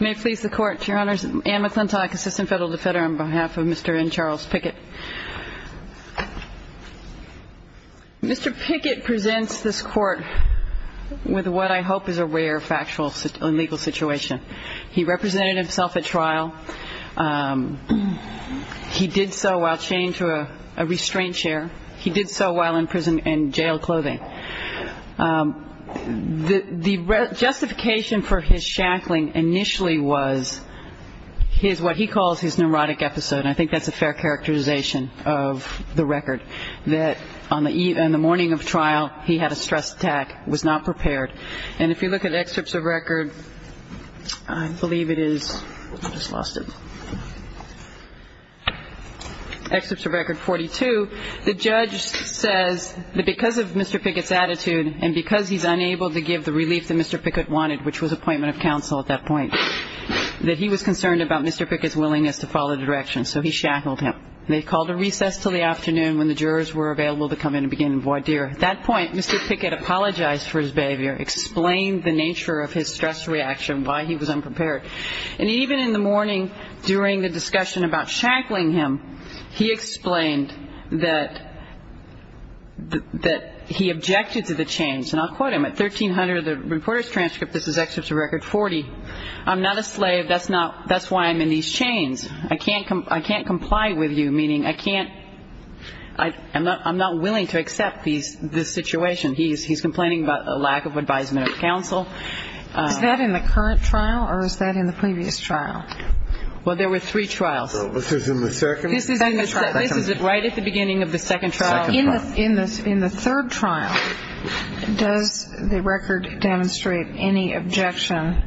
May it please the Court, Your Honors. Anne McClintock, Assistant Federal Defender on behalf of Mr. N. Charles Pickett. Mr. Pickett presents this Court with what I hope is a rare factual and legal situation. He represented himself at trial. He did so while chained to a restraint chair. He did so while in prison in jail clothing. The justification for his shackling initially was his, what he calls his neurotic episode. I think that's a fair characterization of the record. That on the morning of trial he had a stress attack, was not prepared. And if you look at excerpts of record, I believe it is, I just lost it. Excerpts of record 42, the judge says that because of Mr. Pickett's attitude and because he's unable to give the relief that Mr. Pickett wanted, which was appointment of counsel at that point, that he was concerned about Mr. Pickett's willingness to follow directions, so he shackled him. They called a recess till the afternoon when the jurors were available to come in and begin in voir dire. At that point, Mr. Pickett apologized for his behavior, explained the nature of his stress reaction, why he was unprepared. And even in the morning during the discussion about shackling him, he explained that he objected to the chains. And I'll quote him. At 1300, the reporter's transcript, this is excerpts of record 40, I'm not a slave, that's why I'm in these chains. I can't comply with you, meaning I can't, I'm not willing to accept this situation. He's complaining about a lack of advisement of counsel. Is that in the current trial or is that in the previous trial? Well, there were three trials. This is in the second? This is right at the beginning of the second trial. In the third trial, does the record demonstrate any objection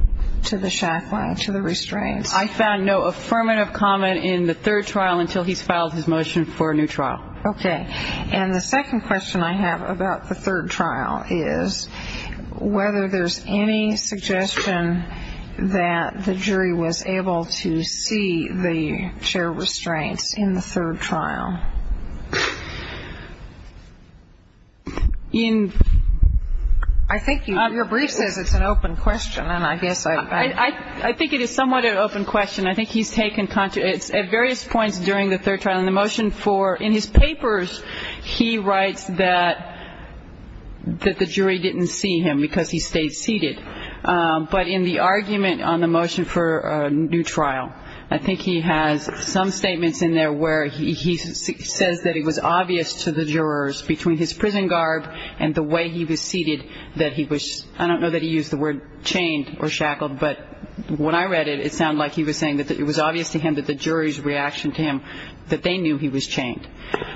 to the shackling, to the restraints? I found no affirmative comment in the third trial until he's filed his motion for a new trial. Okay. And the second question I have about the third trial is whether there's any suggestion that the jury was able to see the chair restraints in the third trial. I think your brief says it's an open question, and I guess I — I think it is somewhat an open question. I think he's taken — at various points during the third trial in the motion for — in his papers, he writes that the jury didn't see him because he stayed seated. But in the argument on the motion for a new trial, I think he has some statements in there where he says that it was obvious to the jurors between his prison garb and the way he was seated that he was — I don't know that he used the word chained or shackled, but when I read it, it sounded like he was saying that it was obvious to him that the jury's reaction to him, that they knew he was chained.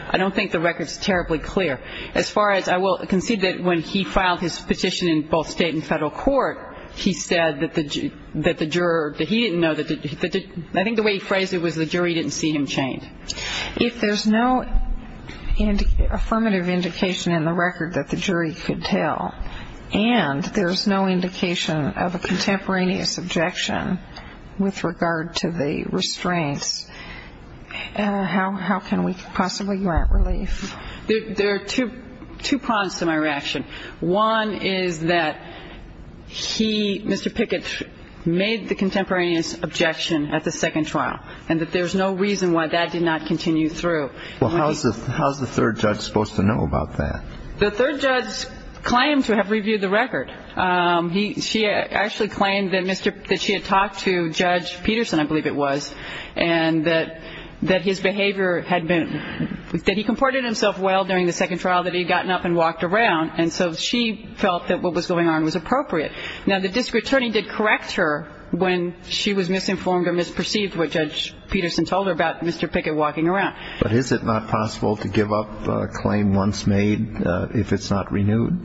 I don't think the record's terribly clear. As far as — I will concede that when he filed his petition in both state and federal court, he said that the juror — that he didn't know that — I think the way he phrased it was the jury didn't see him chained. If there's no affirmative indication in the record that the jury could tell and there's no indication of a contemporaneous objection with regard to the restraints, how can we possibly grant relief? There are two prongs to my reaction. One is that he, Mr. Pickett, made the contemporaneous objection at the second trial and that there's no reason why that did not continue through. Well, how's the third judge supposed to know about that? The third judge claimed to have reviewed the record. She actually claimed that she had talked to Judge Peterson, I believe it was, and that his behavior had been — that he comported himself well during the second trial, that he had gotten up and walked around, and so she felt that what was going on was appropriate. Now, the district attorney did correct her when she was misinformed or misperceived what Judge Peterson told her about Mr. Pickett walking around. But is it not possible to give up a claim once made if it's not renewed?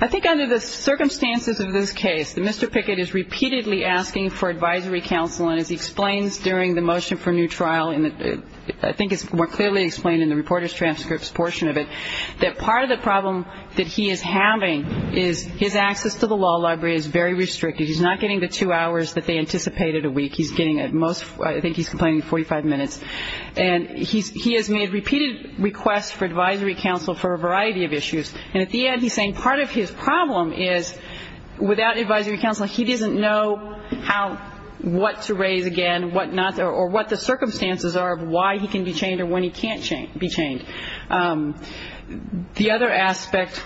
I think under the circumstances of this case, that Mr. Pickett is repeatedly asking for advisory counsel, and as he explains during the motion for new trial, and I think it's more clearly explained in the reporter's transcripts portion of it, that part of the problem that he is having is his access to the law library is very restricted. He's not getting the two hours that they anticipated a week. He's getting at most — I think he's complaining 45 minutes. And he has made repeated requests for advisory counsel for a variety of issues. And at the end, he's saying part of his problem is without advisory counsel, he doesn't know how — what to raise again, what not — or what the circumstances are of why he can be chained or when he can't be chained. The other aspect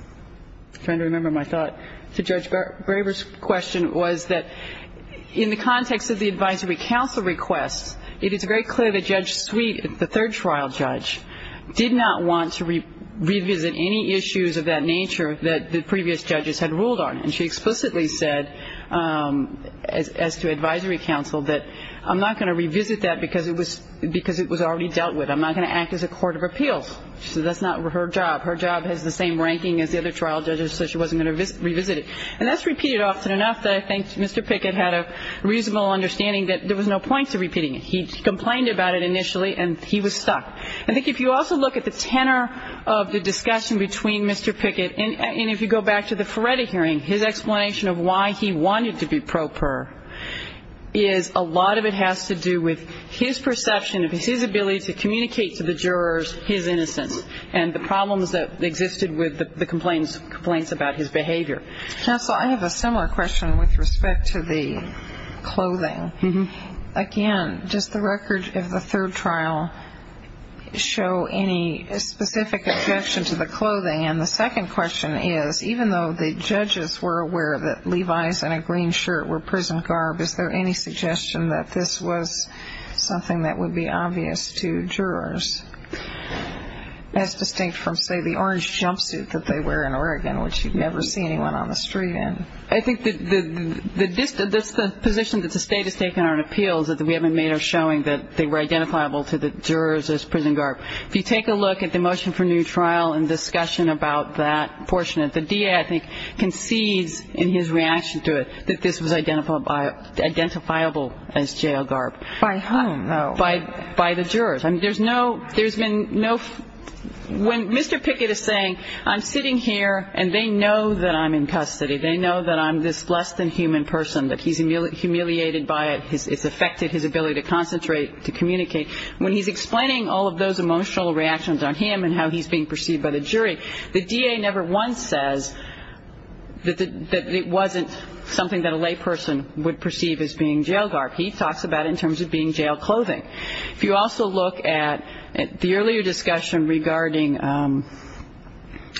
— I'm trying to remember my thought — to Judge Graber's question was that in the context of the advisory counsel requests, it is very clear that Judge Sweet, the third trial judge, did not want to revisit any issues of that nature that the previous judges had ruled on. And she explicitly said, as to advisory counsel, that I'm not going to revisit that because it was already dealt with. I'm not going to act as a court of appeals. She said that's not her job. Her job has the same ranking as the other trial judges, so she wasn't going to revisit it. And that's repeated often enough that I think Mr. Pickett had a reasonable understanding that there was no point to repeating it. He complained about it initially, and he was stuck. I think if you also look at the tenor of the discussion between Mr. Pickett and if you go back to the Ferretti hearing, his explanation of why he wanted to be pro per is a lot of it has to do with his perception of his ability to communicate to the jurors his innocence and the problems that existed with the complaints about his behavior. Counsel, I have a similar question with respect to the clothing. Again, does the record of the third trial show any specific objection to the clothing? And the second question is, even though the judges were aware that Levi's and a green shirt were prison garb, is there any suggestion that this was something that would be obvious to jurors, as distinct from, say, the orange jumpsuit that they wear in Oregon, which you'd never see anyone on the street in? I think that the position that the State has taken on appeals that we haven't made are showing that they were identifiable to the jurors as prison garb. If you take a look at the motion for new trial and discussion about that portion of it, the DA, I think, concedes in his reaction to it that this was identifiable as jail garb. By whom, though? By the jurors. When Mr. Pickett is saying, I'm sitting here and they know that I'm in custody, they know that I'm this less-than-human person, that he's humiliated by it, it's affected his ability to concentrate, to communicate, when he's explaining all of those emotional reactions on him and how he's being perceived by the jury, the DA never once says that it wasn't something that a layperson would perceive as being jail garb. He talks about it in terms of being jail clothing. If you also look at the earlier discussion regarding,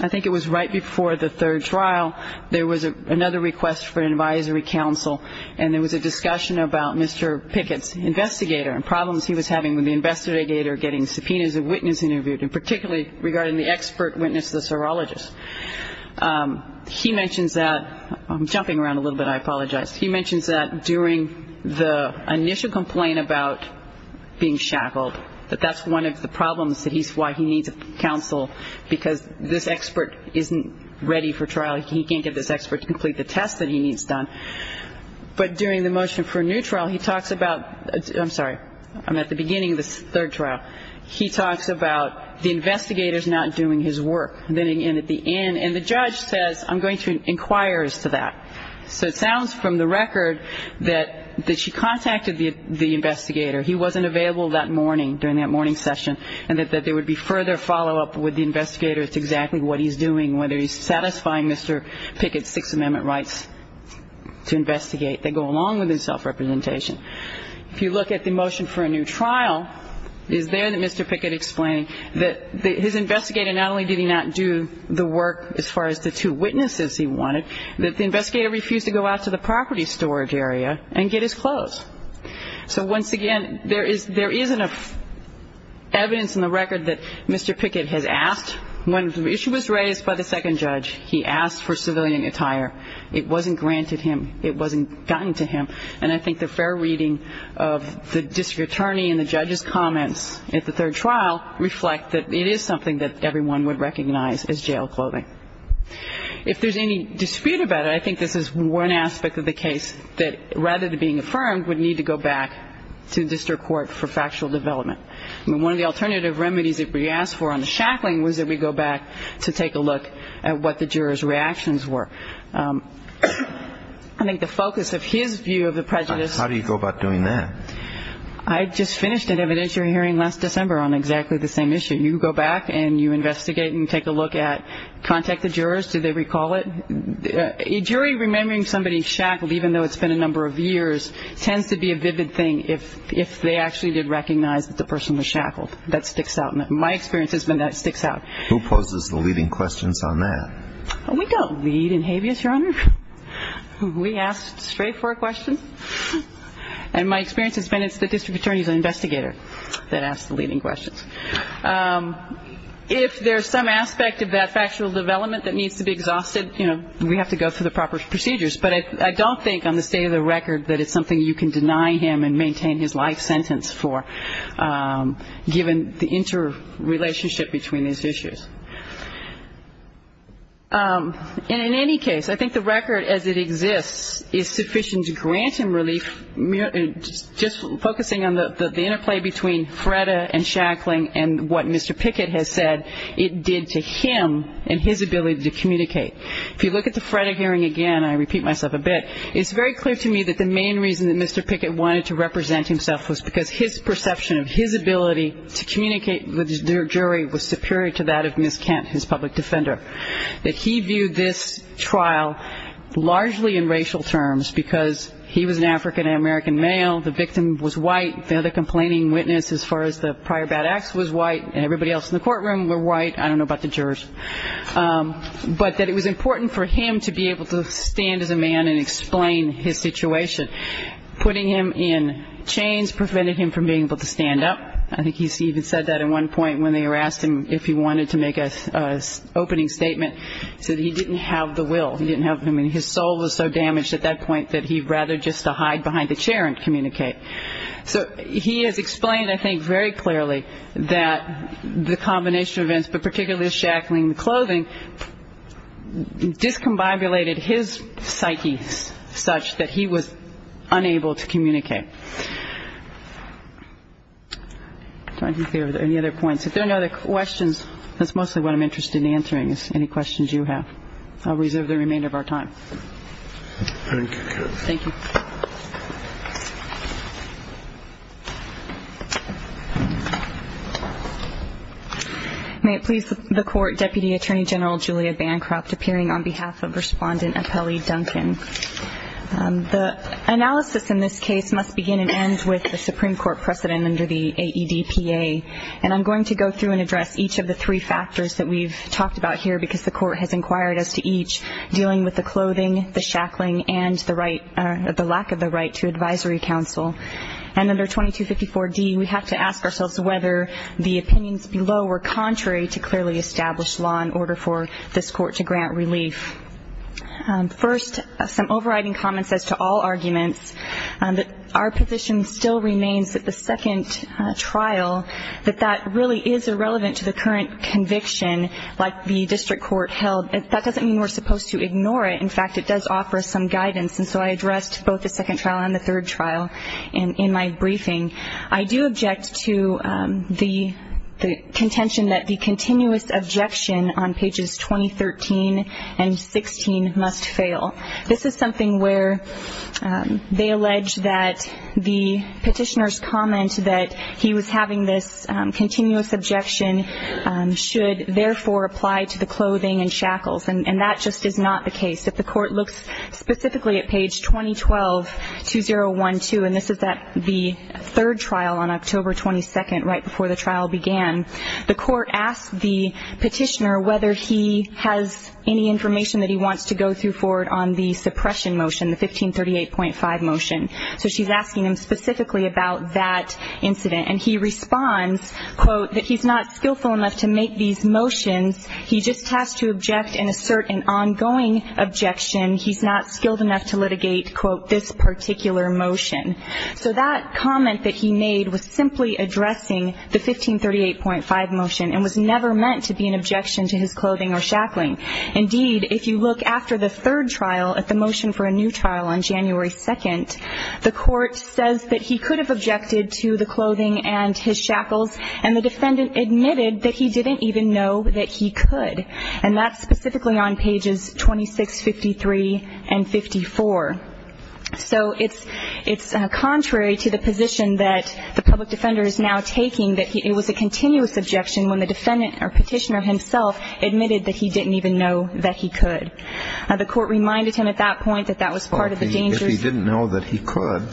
I think it was right before the third trial, there was another request for an advisory council, and there was a discussion about Mr. Pickett's investigator and problems he was having with the investigator getting subpoenas of witnesses interviewed, and particularly regarding the expert witness, the serologist. He mentions that, I'm jumping around a little bit, I apologize. He mentions that during the initial complaint about being shackled, that that's one of the problems that he's why he needs a council, because this expert isn't ready for trial. He can't get this expert to complete the test that he needs done. But during the motion for a new trial, he talks about, I'm sorry, I'm at the beginning of the third trial. He talks about the investigators not doing his work. And at the end, and the judge says, I'm going to inquire as to that. So it sounds from the record that she contacted the investigator. He wasn't available that morning, during that morning session, and that there would be further follow-up with the investigator as to exactly what he's doing, whether he's satisfying Mr. Pickett's Sixth Amendment rights to investigate. They go along with his self-representation. If you look at the motion for a new trial, it is there that Mr. Pickett explained that his investigator not only did he not do the work as far as the two witnesses he wanted, that the investigator refused to go out to the property storage area and get his clothes. So once again, there is enough evidence in the record that Mr. Pickett has asked. When the issue was raised by the second judge, he asked for civilian attire. It wasn't granted him. It wasn't gotten to him. And I think the fair reading of the district attorney and the judge's comments at the third trial reflect that it is something that everyone would recognize as jail clothing. If there's any dispute about it, I think this is one aspect of the case that rather than being affirmed would need to go back to district court for factual development. I mean, one of the alternative remedies that we asked for on the shackling was that we go back to take a look at what the jurors' reactions were. I think the focus of his view of the prejudice... How do you go about doing that? I just finished an evidentiary hearing last December on exactly the same issue. You go back and you investigate and you take a look at, contact the jurors. Do they recall it? A jury remembering somebody shackled, even though it's been a number of years, tends to be a vivid thing if they actually did recognize that the person was shackled. That sticks out. My experience has been that sticks out. Who poses the leading questions on that? We don't lead in habeas, Your Honor. We ask straightforward questions. And my experience has been it's the district attorney's investigator that asks the leading questions. If there's some aspect of that factual development that needs to be exhausted, you know, we have to go through the proper procedures. But I don't think on the state of the record that it's something you can deny him and maintain his life sentence for, given the interrelationship between these issues. And in any case, I think the record as it exists is sufficient to grant him relief, just focusing on the interplay between Freda and shackling and what Mr. Pickett has said it did to him and his ability to communicate. If you look at the Freda hearing again, I repeat myself a bit, it's very clear to me that the main reason that Mr. Pickett wanted to represent himself was because his perception of his ability to communicate with the jury was superior to that of Ms. Kent, his public defender, that he viewed this trial largely in racial terms because he was an African-American male, the victim was white, the other complaining witness as far as the prior bad acts was white, and everybody else in the courtroom were white. I don't know about the jurors. But that it was important for him to be able to stand as a man and explain his situation. Putting him in chains prevented him from being able to stand up. I think he even said that at one point when they asked him if he wanted to make an opening statement. He said he didn't have the will. I mean, his soul was so damaged at that point that he'd rather just hide behind the chair and communicate. So he has explained, I think, very clearly that the combination of events, but particularly the shackling and the clothing, discombobulated his psyche such that he was unable to communicate. I don't think there are any other points. If there are no other questions, that's mostly what I'm interested in answering is any questions you have. I'll reserve the remainder of our time. Thank you. Thank you. Thank you. May it please the Court, Deputy Attorney General Julia Bancroft, appearing on behalf of Respondent Apelli Duncan. The analysis in this case must begin and end with the Supreme Court precedent under the AEDPA, and I'm going to go through and address each of the three factors that we've talked about here because the Court has inquired as to each, dealing with the clothing, the shackling, and the lack of the right to advisory counsel. And under 2254D, we have to ask ourselves whether the opinions below were contrary to clearly established law in order for this Court to grant relief. First, some overriding comments as to all arguments. Our position still remains that the second trial, that that really is irrelevant to the current conviction like the district court held. That doesn't mean we're supposed to ignore it. In fact, it does offer some guidance. And so I addressed both the second trial and the third trial in my briefing. I do object to the contention that the continuous objection on pages 2013 and 16 must fail. This is something where they allege that the petitioner's comment that he was having this continuous objection should therefore apply to the clothing and shackles, and that just is not the case. If the Court looks specifically at page 2012-2012, and this is at the third trial on October 22nd, right before the trial began, the Court asked the petitioner whether he has any information that he wants to go through forward on the suppression motion, the 1538.5 motion. So she's asking him specifically about that incident. And he responds, quote, that he's not skillful enough to make these motions. He just has to object and assert an ongoing objection. He's not skilled enough to litigate, quote, this particular motion. So that comment that he made was simply addressing the 1538.5 motion and was never meant to be an objection to his clothing or shackling. Indeed, if you look after the third trial at the motion for a new trial on January 2nd, the Court says that he could have objected to the clothing and his shackles, and the defendant admitted that he didn't even know that he could. And that's specifically on pages 26, 53, and 54. So it's contrary to the position that the public defender is now taking that it was a continuous objection when the defendant or petitioner himself admitted that he didn't even know that he could. The Court reminded him at that point that that was part of the dangers. If he didn't know that he could,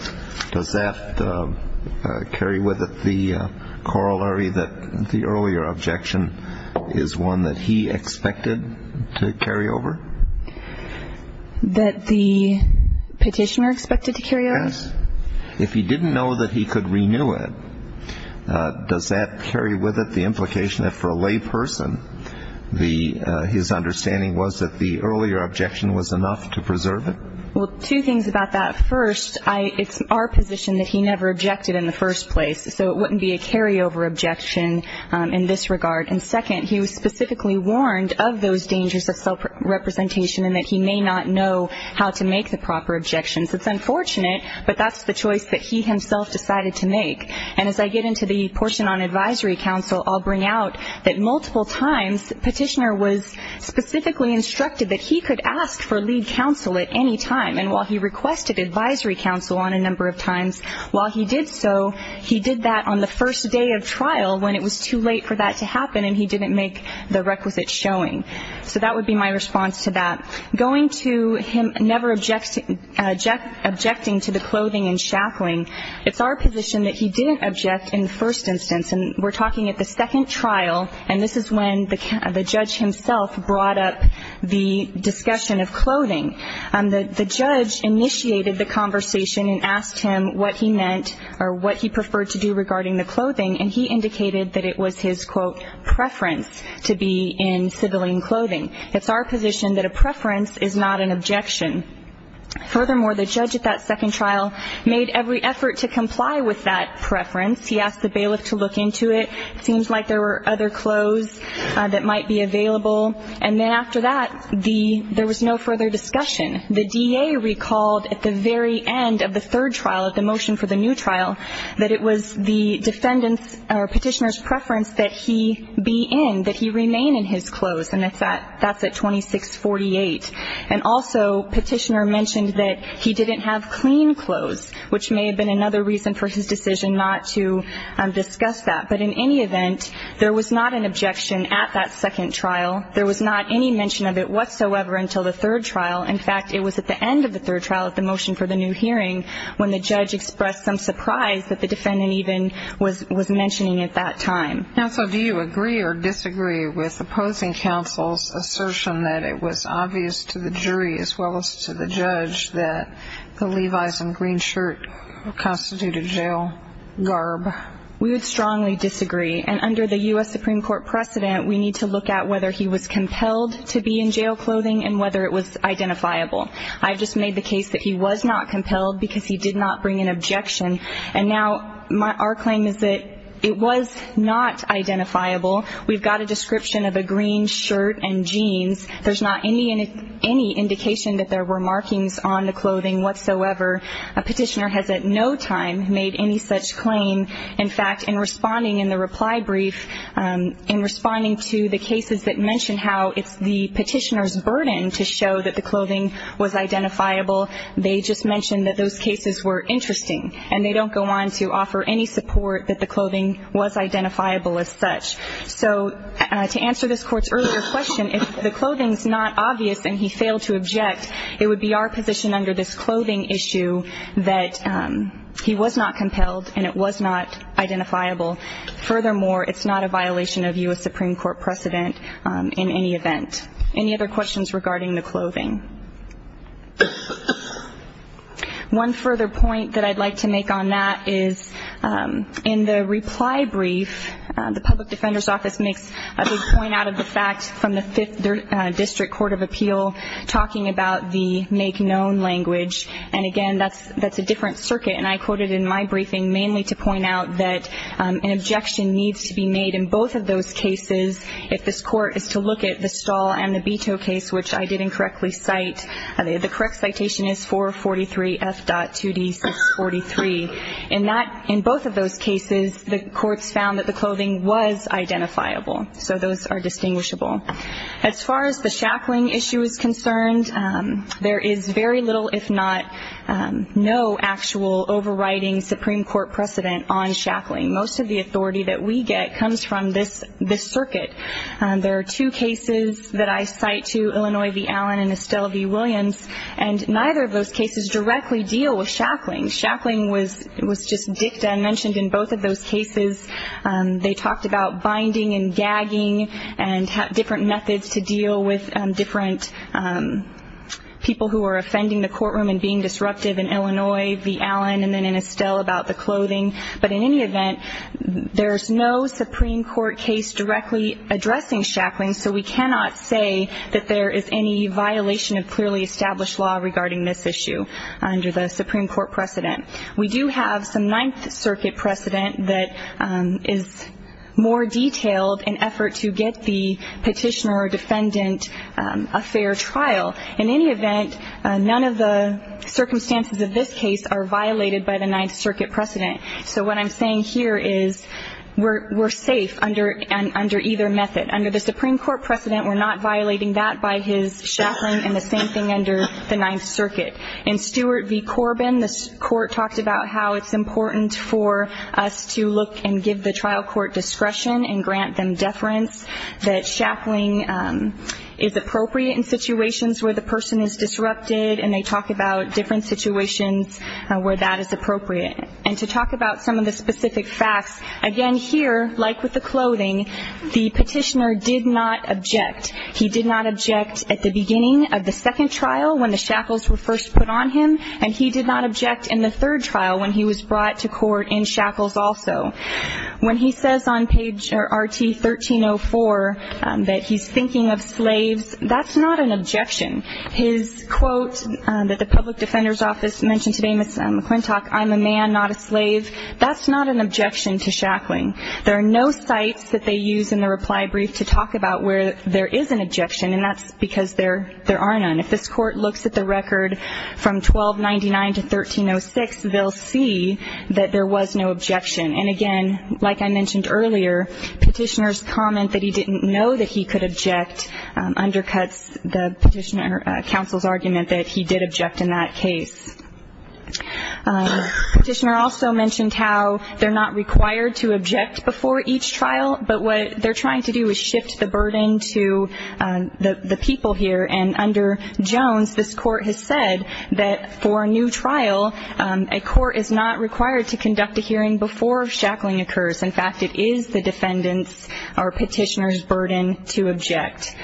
does that carry with it the corollary that the earlier objection is one that he expected to carry over? That the petitioner expected to carry over? Yes. If he didn't know that he could renew it, does that carry with it the implication that for a lay person, his understanding was that the earlier objection was enough to preserve it? Well, two things about that. First, it's our position that he never objected in the first place, so it wouldn't be a carryover objection in this regard. And second, he was specifically warned of those dangers of self-representation and that he may not know how to make the proper objections. It's unfortunate, but that's the choice that he himself decided to make. And as I get into the portion on advisory counsel, I'll bring out that multiple times the petitioner was specifically instructed that he could ask for lead counsel at any time. And while he requested advisory counsel on a number of times, while he did so, he did that on the first day of trial when it was too late for that to happen and he didn't make the requisite showing. So that would be my response to that. Going to him never objecting to the clothing and shackling, it's our position that he didn't object in the first instance. And we're talking at the second trial, and this is when the judge himself brought up the discussion of clothing. The judge initiated the conversation and asked him what he meant or what he preferred to do regarding the clothing, and he indicated that it was his, quote, preference to be in civilian clothing. It's our position that a preference is not an objection. Furthermore, the judge at that second trial made every effort to comply with that preference. He asked the bailiff to look into it. It seems like there were other clothes that might be available. And then after that, there was no further discussion. The DA recalled at the very end of the third trial, at the motion for the new trial, that it was the defendant's or petitioner's preference that he be in, that he remain in his clothes, and that's at 2648. And also, petitioner mentioned that he didn't have clean clothes, which may have been another reason for his decision not to discuss that. But in any event, there was not an objection at that second trial. There was not any mention of it whatsoever until the third trial. In fact, it was at the end of the third trial at the motion for the new hearing when the judge expressed some surprise that the defendant even was mentioning at that time. Counsel, do you agree or disagree with opposing counsel's assertion that it was obvious to the jury as well as to the judge that the Levi's and green shirt constituted jail garb? We would strongly disagree. And under the U.S. Supreme Court precedent, we need to look at whether he was compelled to be in jail clothing and whether it was identifiable. I've just made the case that he was not compelled because he did not bring an objection. And now our claim is that it was not identifiable. We've got a description of a green shirt and jeans. There's not any indication that there were markings on the clothing whatsoever. A petitioner has at no time made any such claim. In fact, in responding in the reply brief, in responding to the cases that mentioned how it's the petitioner's burden to show that the clothing was identifiable, they just mentioned that those cases were interesting. And they don't go on to offer any support that the clothing was identifiable as such. So to answer this Court's earlier question, if the clothing is not obvious and he failed to object, it would be our position under this clothing issue that he was not compelled and it was not identifiable. Furthermore, it's not a violation of U.S. Supreme Court precedent in any event. Any other questions regarding the clothing? One further point that I'd like to make on that is in the reply brief, the Public Defender's Office makes a big point out of the fact from the Fifth District Court of Appeal talking about the make-known language. And again, that's a different circuit. And I quoted in my briefing mainly to point out that an objection needs to be made in both of those cases if this Court is to look at the Stahl and the Beto case, which I didn't correctly cite. The correct citation is 443F.2D643. In both of those cases, the courts found that the clothing was identifiable. So those are distinguishable. As far as the shackling issue is concerned, there is very little if not no actual overriding Supreme Court precedent on shackling. Most of the authority that we get comes from this circuit. There are two cases that I cite to, Illinois v. Allen and Estelle v. Williams, and neither of those cases directly deal with shackling. Shackling was just dicta mentioned in both of those cases. They talked about binding and gagging and different methods to deal with different people who are offending the courtroom and being disruptive in Illinois v. Allen and then in Estelle about the clothing. But in any event, there's no Supreme Court case directly addressing shackling, so we cannot say that there is any violation of clearly established law regarding this issue under the Supreme Court precedent. We do have some Ninth Circuit precedent that is more detailed in effort to get the petitioner or defendant a fair trial. In any event, none of the circumstances of this case are violated by the Ninth Circuit precedent. So what I'm saying here is we're safe under either method. Under the Supreme Court precedent, we're not violating that by his shackling and the same thing under the Ninth Circuit. In Stewart v. Corbin, the court talked about how it's important for us to look and give the trial court discretion and grant them deference, that shackling is appropriate in situations where the person is disrupted, and they talk about different situations where that is appropriate. And to talk about some of the specific facts, again, here, like with the clothing, the petitioner did not object. He did not object at the beginning of the second trial when the shackles were first put on him, and he did not object in the third trial when he was brought to court in shackles also. When he says on page RT-1304 that he's thinking of slaves, that's not an objection. His quote that the public defender's office mentioned today, Ms. McClintock, I'm a man, not a slave, that's not an objection to shackling. There are no sites that they use in the reply brief to talk about where there is an objection, and that's because there are none. If this court looks at the record from 1299 to 1306, they'll see that there was no objection. And, again, like I mentioned earlier, petitioner's comment that he didn't know that he could object undercuts the petitioner counsel's argument that he did object in that case. Petitioner also mentioned how they're not required to object before each trial, but what they're trying to do is shift the burden to the people here. And under Jones, this court has said that for a new trial, a court is not required to conduct a hearing before shackling occurs. In fact, it is the defendant's or petitioner's burden to object.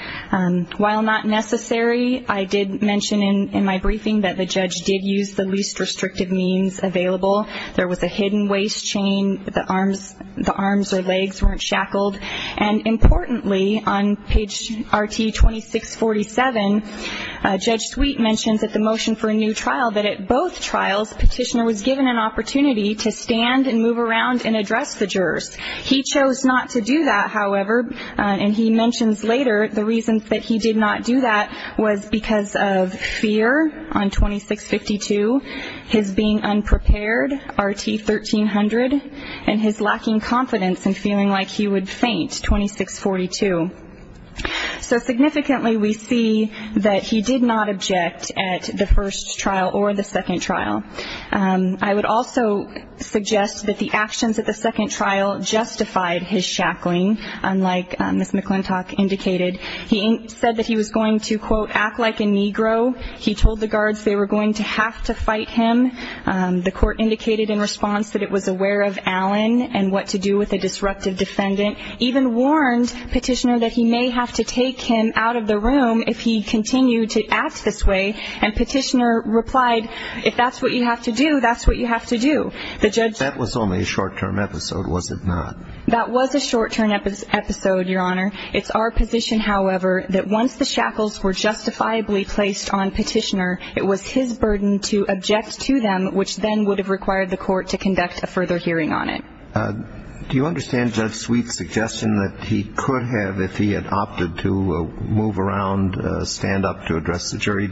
While not necessary, I did mention in my briefing that the judge did use the least restrictive means available. There was a hidden waist chain. The arms or legs weren't shackled. And, importantly, on page RT-2647, Judge Sweet mentions at the motion for a new trial that at both trials, petitioner was given an opportunity to stand and move around and address the jurors. He chose not to do that, however, and he mentions later the reasons that he did not do that was because of fear on 2652, his being unprepared, RT-1300, and his lacking confidence and feeling like he would faint, 2642. So, significantly, we see that he did not object at the first trial or the second trial. I would also suggest that the actions at the second trial justified his shackling, unlike Ms. McClintock indicated. He said that he was going to, quote, act like a Negro. He told the guards they were going to have to fight him. The court indicated in response that it was aware of Allen and what to do with a disruptive defendant, even warned petitioner that he may have to take him out of the room if he continued to act this way. And petitioner replied, if that's what you have to do, that's what you have to do. That was only a short-term episode, was it not? That was a short-term episode, Your Honor. It's our position, however, that once the shackles were justifiably placed on petitioner, it was his burden to object to them, which then would have required the court to conduct a further hearing on it. Do you understand Judge Sweet's suggestion that he could have, if he had opted to, move around, stand up to address the jury?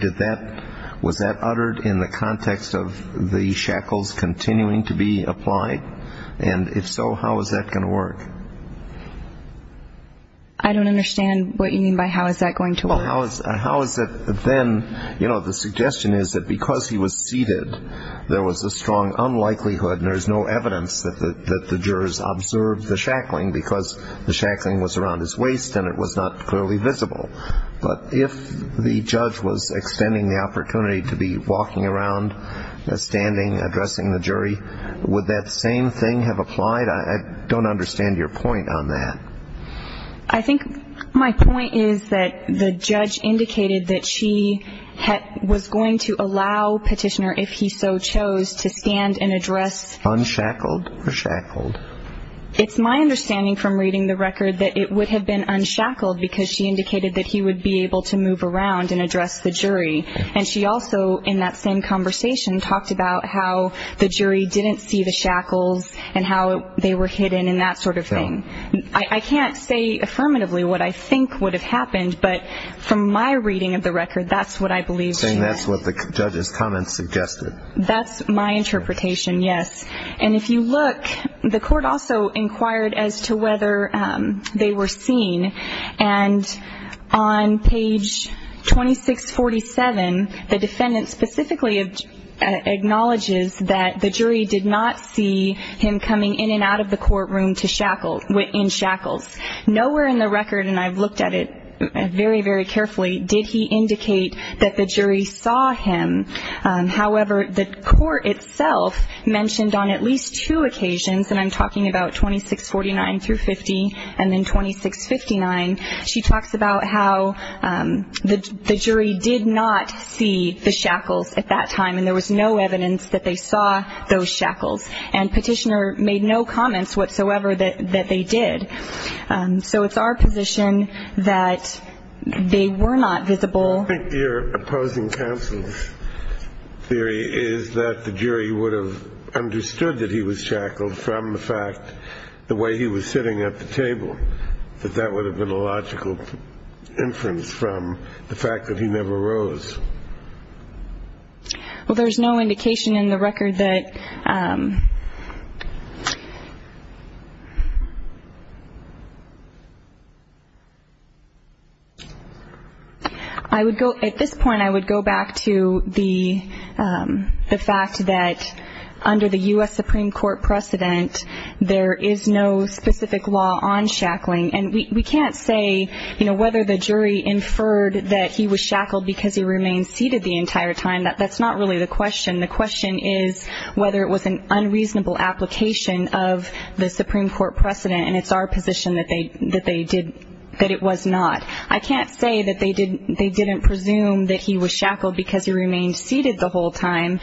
Was that uttered in the context of the shackles continuing to be applied? And if so, how is that going to work? I don't understand what you mean by how is that going to work. Well, how is it then, you know, the suggestion is that because he was seated, there was a strong unlikelihood and there's no evidence that the jurors observed the shackling because the shackling was around his waist and it was not clearly visible. But if the judge was extending the opportunity to be walking around, standing, addressing the jury, would that same thing have applied? I don't understand your point on that. I think my point is that the judge indicated that she was going to allow petitioner, if he so chose, to stand and address. Unshackled or shackled? It's my understanding from reading the record that it would have been unshackled because she indicated that he would be able to move around and address the jury. And she also, in that same conversation, talked about how the jury didn't see the shackles and how they were hidden and that sort of thing. I can't say affirmatively what I think would have happened, but from my reading of the record, that's what I believe. Saying that's what the judge's comments suggested. That's my interpretation, yes. And if you look, the court also inquired as to whether they were seen. And on page 2647, the defendant specifically acknowledges that the jury did not see him coming in and out of the courtroom in shackles. Nowhere in the record, and I've looked at it very, very carefully, did he indicate that the jury saw him. However, the court itself mentioned on at least two occasions, and I'm talking about 2649 through 50 and then 2659, she talks about how the jury did not see the shackles at that time and there was no evidence that they saw those shackles. And Petitioner made no comments whatsoever that they did. So it's our position that they were not visible. I think your opposing counsel's theory is that the jury would have understood that he was shackled from the fact the way he was sitting at the table, that that would have been a logical inference from the fact that he never rose. Well, there's no indication in the record that. I would go at this point. I would go back to the fact that under the U.S. Supreme Court precedent, there is no specific law on shackling. And we can't say, you know, whether the jury inferred that he was shackled because he remained seated the entire time. That's not really the question. The question is whether it was an unreasonable application of the Supreme Court precedent, and it's our position that it was not. I can't say that they didn't presume that he was shackled because he remained seated the whole time.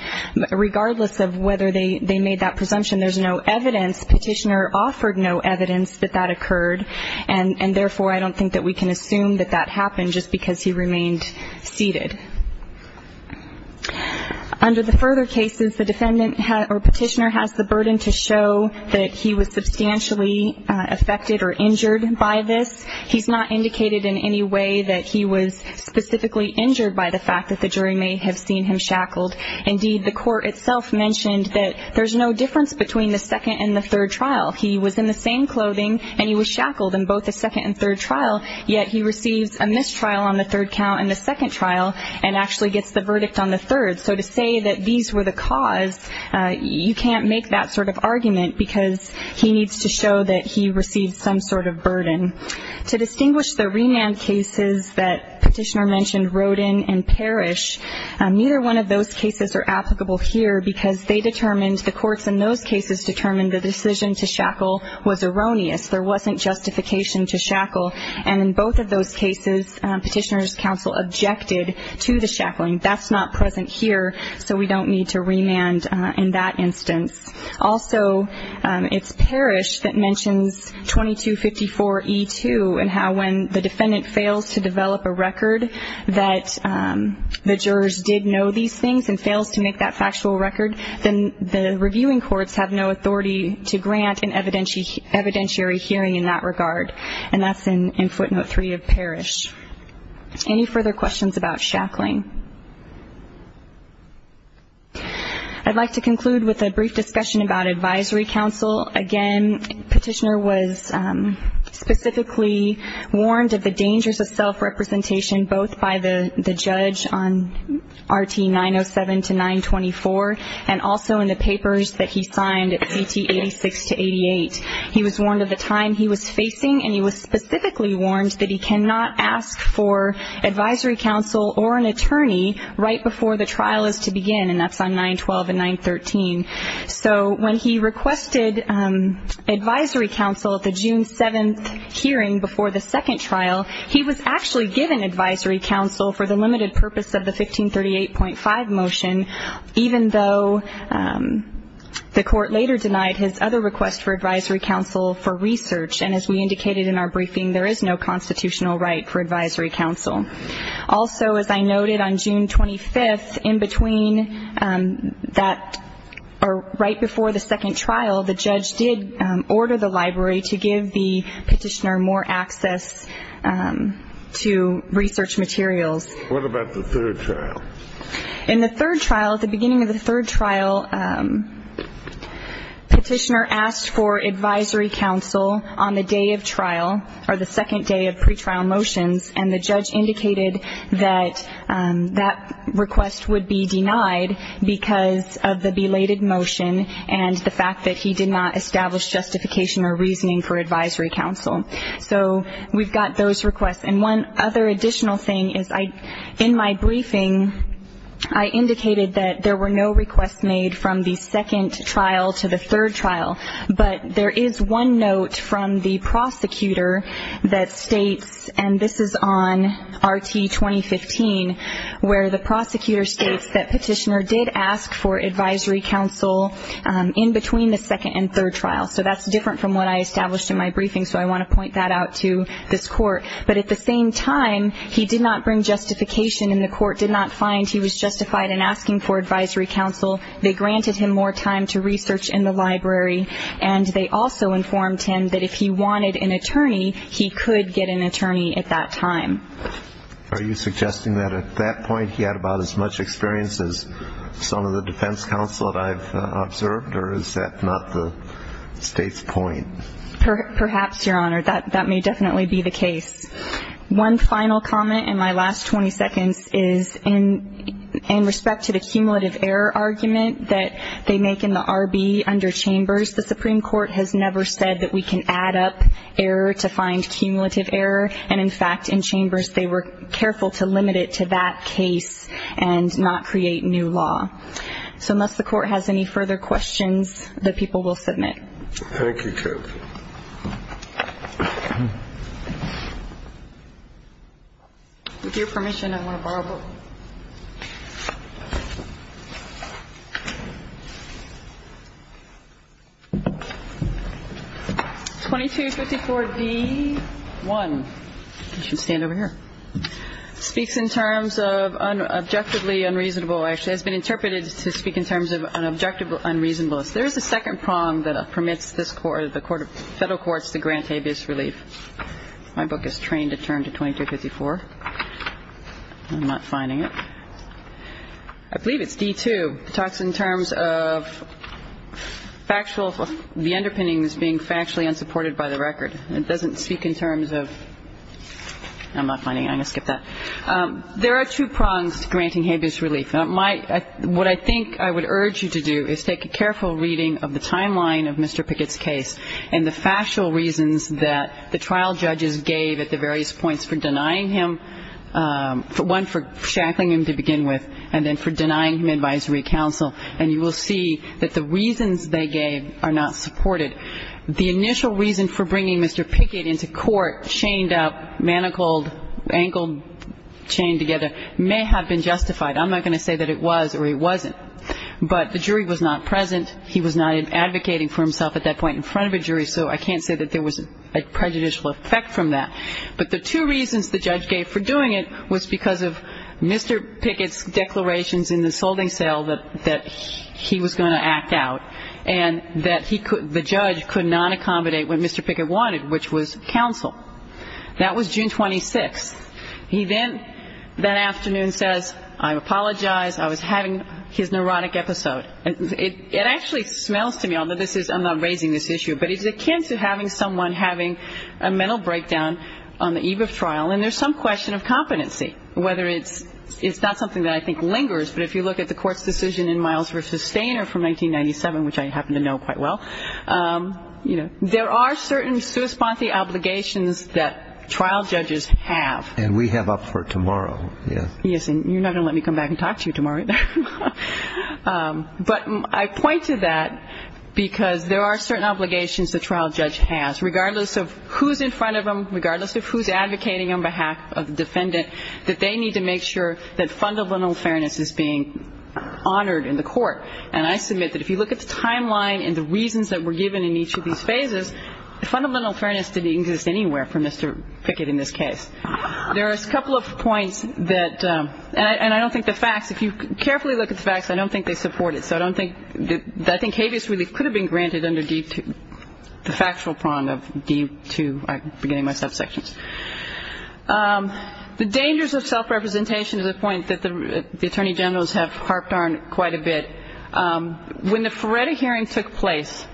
Regardless of whether they made that presumption, there's no evidence. Petitioner offered no evidence that that occurred, and therefore I don't think that we can assume that that happened just because he remained seated. Under the further cases, the defendant or petitioner has the burden to show that he was substantially affected or injured by this. He's not indicated in any way that he was specifically injured by the fact that the jury may have seen him shackled. Indeed, the court itself mentioned that there's no difference between the second and the third trial. He was in the same clothing, and he was shackled in both the second and third trial, yet he receives a mistrial on the third count in the second trial and actually gets the verdict on the third. So to say that these were the cause, you can't make that sort of argument because he needs to show that he received some sort of burden. To distinguish the remand cases that Petitioner mentioned, Rodin and Parrish, neither one of those cases are applicable here because they determined, the courts in those cases determined the decision to shackle was erroneous. There wasn't justification to shackle. And in both of those cases, Petitioner's counsel objected to the shackling. That's not present here, so we don't need to remand in that instance. Also, it's Parrish that mentions 2254E2 and how when the defendant fails to develop a record that the jurors did know these things and fails to make that factual record, then the reviewing courts have no authority to grant an evidentiary hearing in that regard. And that's in footnote 3 of Parrish. Any further questions about shackling? I'd like to conclude with a brief discussion about advisory counsel. Again, Petitioner was specifically warned of the dangers of self-representation, both by the judge on RT 907 to 924 and also in the papers that he signed at CT 86 to 88. He was warned of the time he was facing, and he was specifically warned that he cannot ask for advisory counsel or an attorney right before the trial is to begin, and that's on 912 and 913. So when he requested advisory counsel at the June 7th hearing before the second trial, he was actually given advisory counsel for the limited purpose of the 1538.5 motion, even though the court later denied his other request for advisory counsel for research, and as we indicated in our briefing, there is no constitutional right for advisory counsel. Also, as I noted on June 25th, in between that or right before the second trial, the judge did order the library to give the petitioner more access to research materials. What about the third trial? In the third trial, at the beginning of the third trial, Petitioner asked for advisory counsel on the day of trial or the second day of pretrial motions, and the judge indicated that that request would be denied because of the belated motion and the fact that he did not establish justification or reasoning for advisory counsel. So we've got those requests. And one other additional thing is in my briefing, I indicated that there were no requests made from the second trial to the third trial, but there is one note from the prosecutor that states, and this is on RT-2015, where the prosecutor states that Petitioner did ask for advisory counsel in between the second and third trials. So that's different from what I established in my briefing, so I want to point that out to this court. But at the same time, he did not bring justification, and the court did not find he was justified in asking for advisory counsel. They granted him more time to research in the library, and they also informed him that if he wanted an attorney, he could get an attorney at that time. Are you suggesting that at that point he had about as much experience as some of the defense counsel that I've observed, or is that not the State's point? Perhaps, Your Honor. That may definitely be the case. One final comment in my last 20 seconds is in respect to the cumulative error argument that they make in the R.B. under Chambers, the Supreme Court has never said that we can add up error to find cumulative error, and, in fact, in Chambers they were careful to limit it to that case and not create new law. So unless the court has any further questions, the people will submit. Thank you, Judge. With your permission, I want to borrow a book. 2254b-1. You should stand over here. Speaks in terms of objectively unreasonable. Actually, it's been interpreted to speak in terms of an objective unreasonableness. There is a second prong that permits this court, the federal courts, to grant habeas relief. My book is trained to turn to 2254. I'm not finding it. I believe it's D-2. It talks in terms of factual, the underpinnings being factually unsupported by the record. It doesn't speak in terms of, I'm not finding it. I'm going to skip that. There are two prongs to granting habeas relief. What I think I would urge you to do is take a careful reading of the timeline of Mr. Pickett's case and the factual reasons that the trial judges gave at the various points for denying him, one, for shackling him to begin with, and then for denying him advisory counsel. And you will see that the reasons they gave are not supported. The initial reason for bringing Mr. Pickett into court, chained up, manacled, ankle chained together, may have been justified. I'm not going to say that it was or it wasn't. But the jury was not present. He was not advocating for himself at that point in front of a jury, so I can't say that there was a prejudicial effect from that. But the two reasons the judge gave for doing it was because of Mr. Pickett's declarations in the solding cell that he was going to act out and that the judge could not accommodate what Mr. Pickett wanted, which was counsel. That was June 26th. He then that afternoon says, I apologize, I was having his neurotic episode. It actually smells to me, although I'm not raising this issue, but it's akin to having someone having a mental breakdown on the eve of trial, and there's some question of competency, whether it's not something that I think lingers, but if you look at the court's decision in Miles v. Stainer from 1997, which I happen to know quite well, there are certain sui sponte obligations that trial judges have. And we have up for tomorrow. Yes, and you're not going to let me come back and talk to you tomorrow. But I point to that because there are certain obligations the trial judge has, regardless of who's in front of him, regardless of who's advocating on behalf of the defendant, that they need to make sure that fundamental fairness is being honored in the court. And I submit that if you look at the timeline and the reasons that were given in each of these phases, fundamental fairness didn't exist anywhere for Mr. Pickett in this case. There are a couple of points that, and I don't think the facts, if you carefully look at the facts, I don't think they support it. So I don't think, I think habeas really could have been granted under the factual prong of D2, beginning of my subsections. The dangers of self-representation is a point that the Attorney Generals have harped on quite a bit. When the Feretta hearing took place,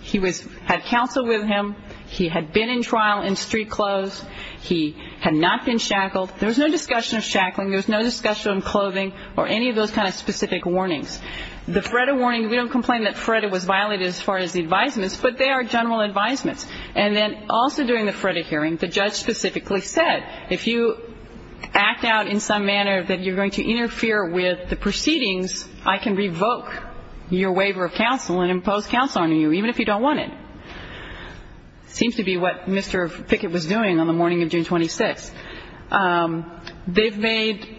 he was, had counsel with him. He had been in trial in street clothes. He had not been shackled. There was no discussion of shackling. There was no discussion of clothing or any of those kind of specific warnings. The Feretta warning, we don't complain that Feretta was violated as far as the advisements, but they are general advisements. And then also during the Feretta hearing, the judge specifically said, if you act out in some manner that you're going to interfere with the proceedings, I can revoke your waiver of counsel and impose counsel on you, even if you don't want it. It seems to be what Mr. Pickett was doing on the morning of June 26th. They've made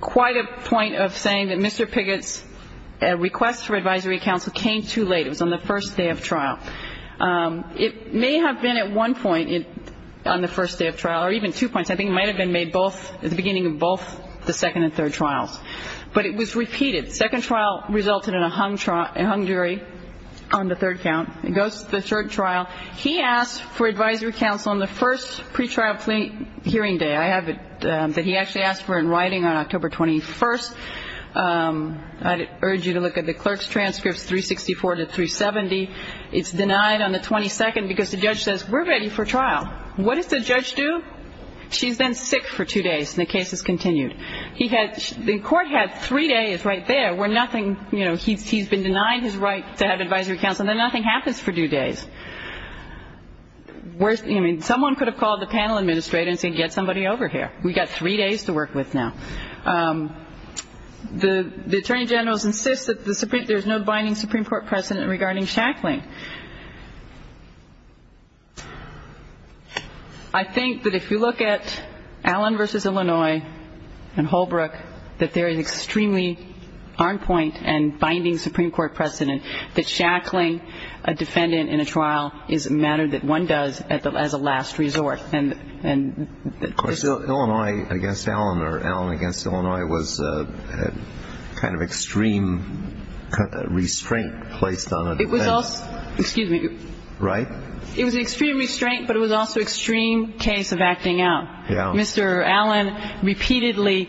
quite a point of saying that Mr. Pickett's request for advisory counsel came too late. It was on the first day of trial. It may have been at one point on the first day of trial, or even two points. I think it might have been made both, at the beginning of both the second and third trials. But it was repeated. The second trial resulted in a hung jury on the third count. It goes to the third trial. He asked for advisory counsel on the first pretrial hearing day. I have it that he actually asked for in writing on October 21st. I'd urge you to look at the clerk's transcripts, 364 to 370. It's denied on the 22nd because the judge says, we're ready for trial. What does the judge do? She's then sick for two days, and the case is continued. He had the court had three days right there where nothing, you know, he's been denied his right to have advisory counsel, and then nothing happens for two days. I mean, someone could have called the panel administrator and said, get somebody over here. We've got three days to work with now. The attorney general insists that there's no binding Supreme Court precedent regarding shackling. I think that if you look at Allen v. Illinois and Holbrook, that there is extremely on point and binding Supreme Court precedent that shackling a defendant in a trial is a matter that one does as a last resort. Of course, Illinois v. Allen or Allen v. Illinois was a kind of extreme restraint placed on a defendant. It was also, excuse me. Right? It was an extreme restraint, but it was also an extreme case of acting out. Yeah. Mr. Allen repeatedly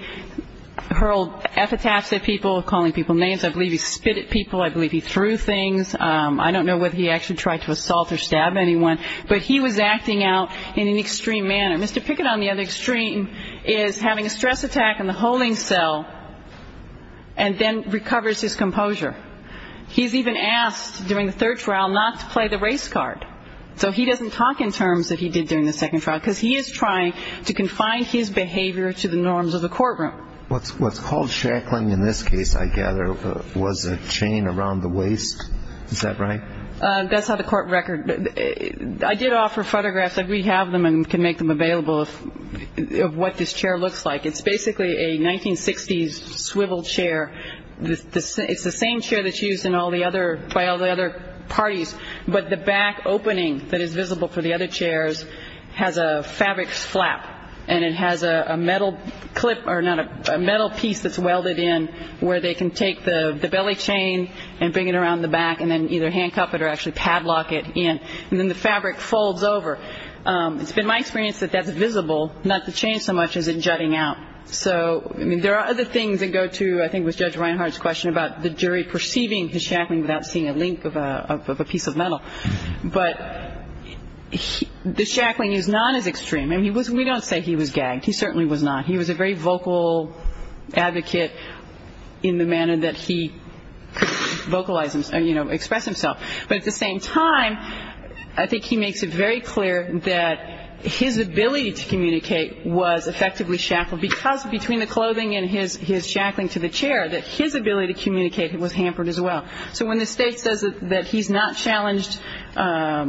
hurled F-attacks at people, calling people names. I believe he spit at people. I believe he threw things. I don't know whether he actually tried to assault or stab anyone. But he was acting out in an extreme manner. Mr. Pickett on the other extreme is having a stress attack in the holding cell and then recovers his composure. He's even asked during the third trial not to play the race card. So he doesn't talk in terms that he did during the second trial, because he is trying to confine his behavior to the norms of the courtroom. What's called shackling in this case, I gather, was a chain around the waist. Is that right? That's on the court record. I did offer photographs. We have them and can make them available of what this chair looks like. It's basically a 1960s swiveled chair. It's the same chair that's used by all the other parties, but the back opening that is visible for the other chairs has a fabric flap, and it has a metal clip or a metal piece that's welded in where they can take the belly chain and bring it around the back and then either handcuff it or actually padlock it in, and then the fabric folds over. It's been my experience that that's visible, not the chain so much as it jutting out. So, I mean, there are other things that go to, I think it was Judge Reinhardt's question, about the jury perceiving the shackling without seeing a link of a piece of metal. But the shackling is not as extreme. I mean, we don't say he was gagged. He certainly was not. He was a very vocal advocate in the manner that he could vocalize himself, you know, express himself. But at the same time, I think he makes it very clear that his ability to communicate was effectively shackled because between the clothing and his shackling to the chair, that his ability to communicate was hampered as well. So when the state says that he's not challenged, that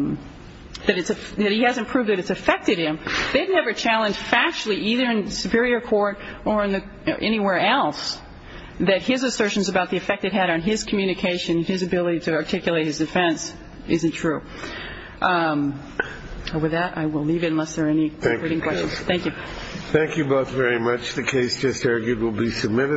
he hasn't proved that it's affected him, they've never challenged factually either in the superior court or anywhere else that his assertions about the effect it had on his communication, his ability to articulate his defense, isn't true. With that, I will leave it unless there are any questions. Thank you. Thank you both very much. The case just argued will be submitted.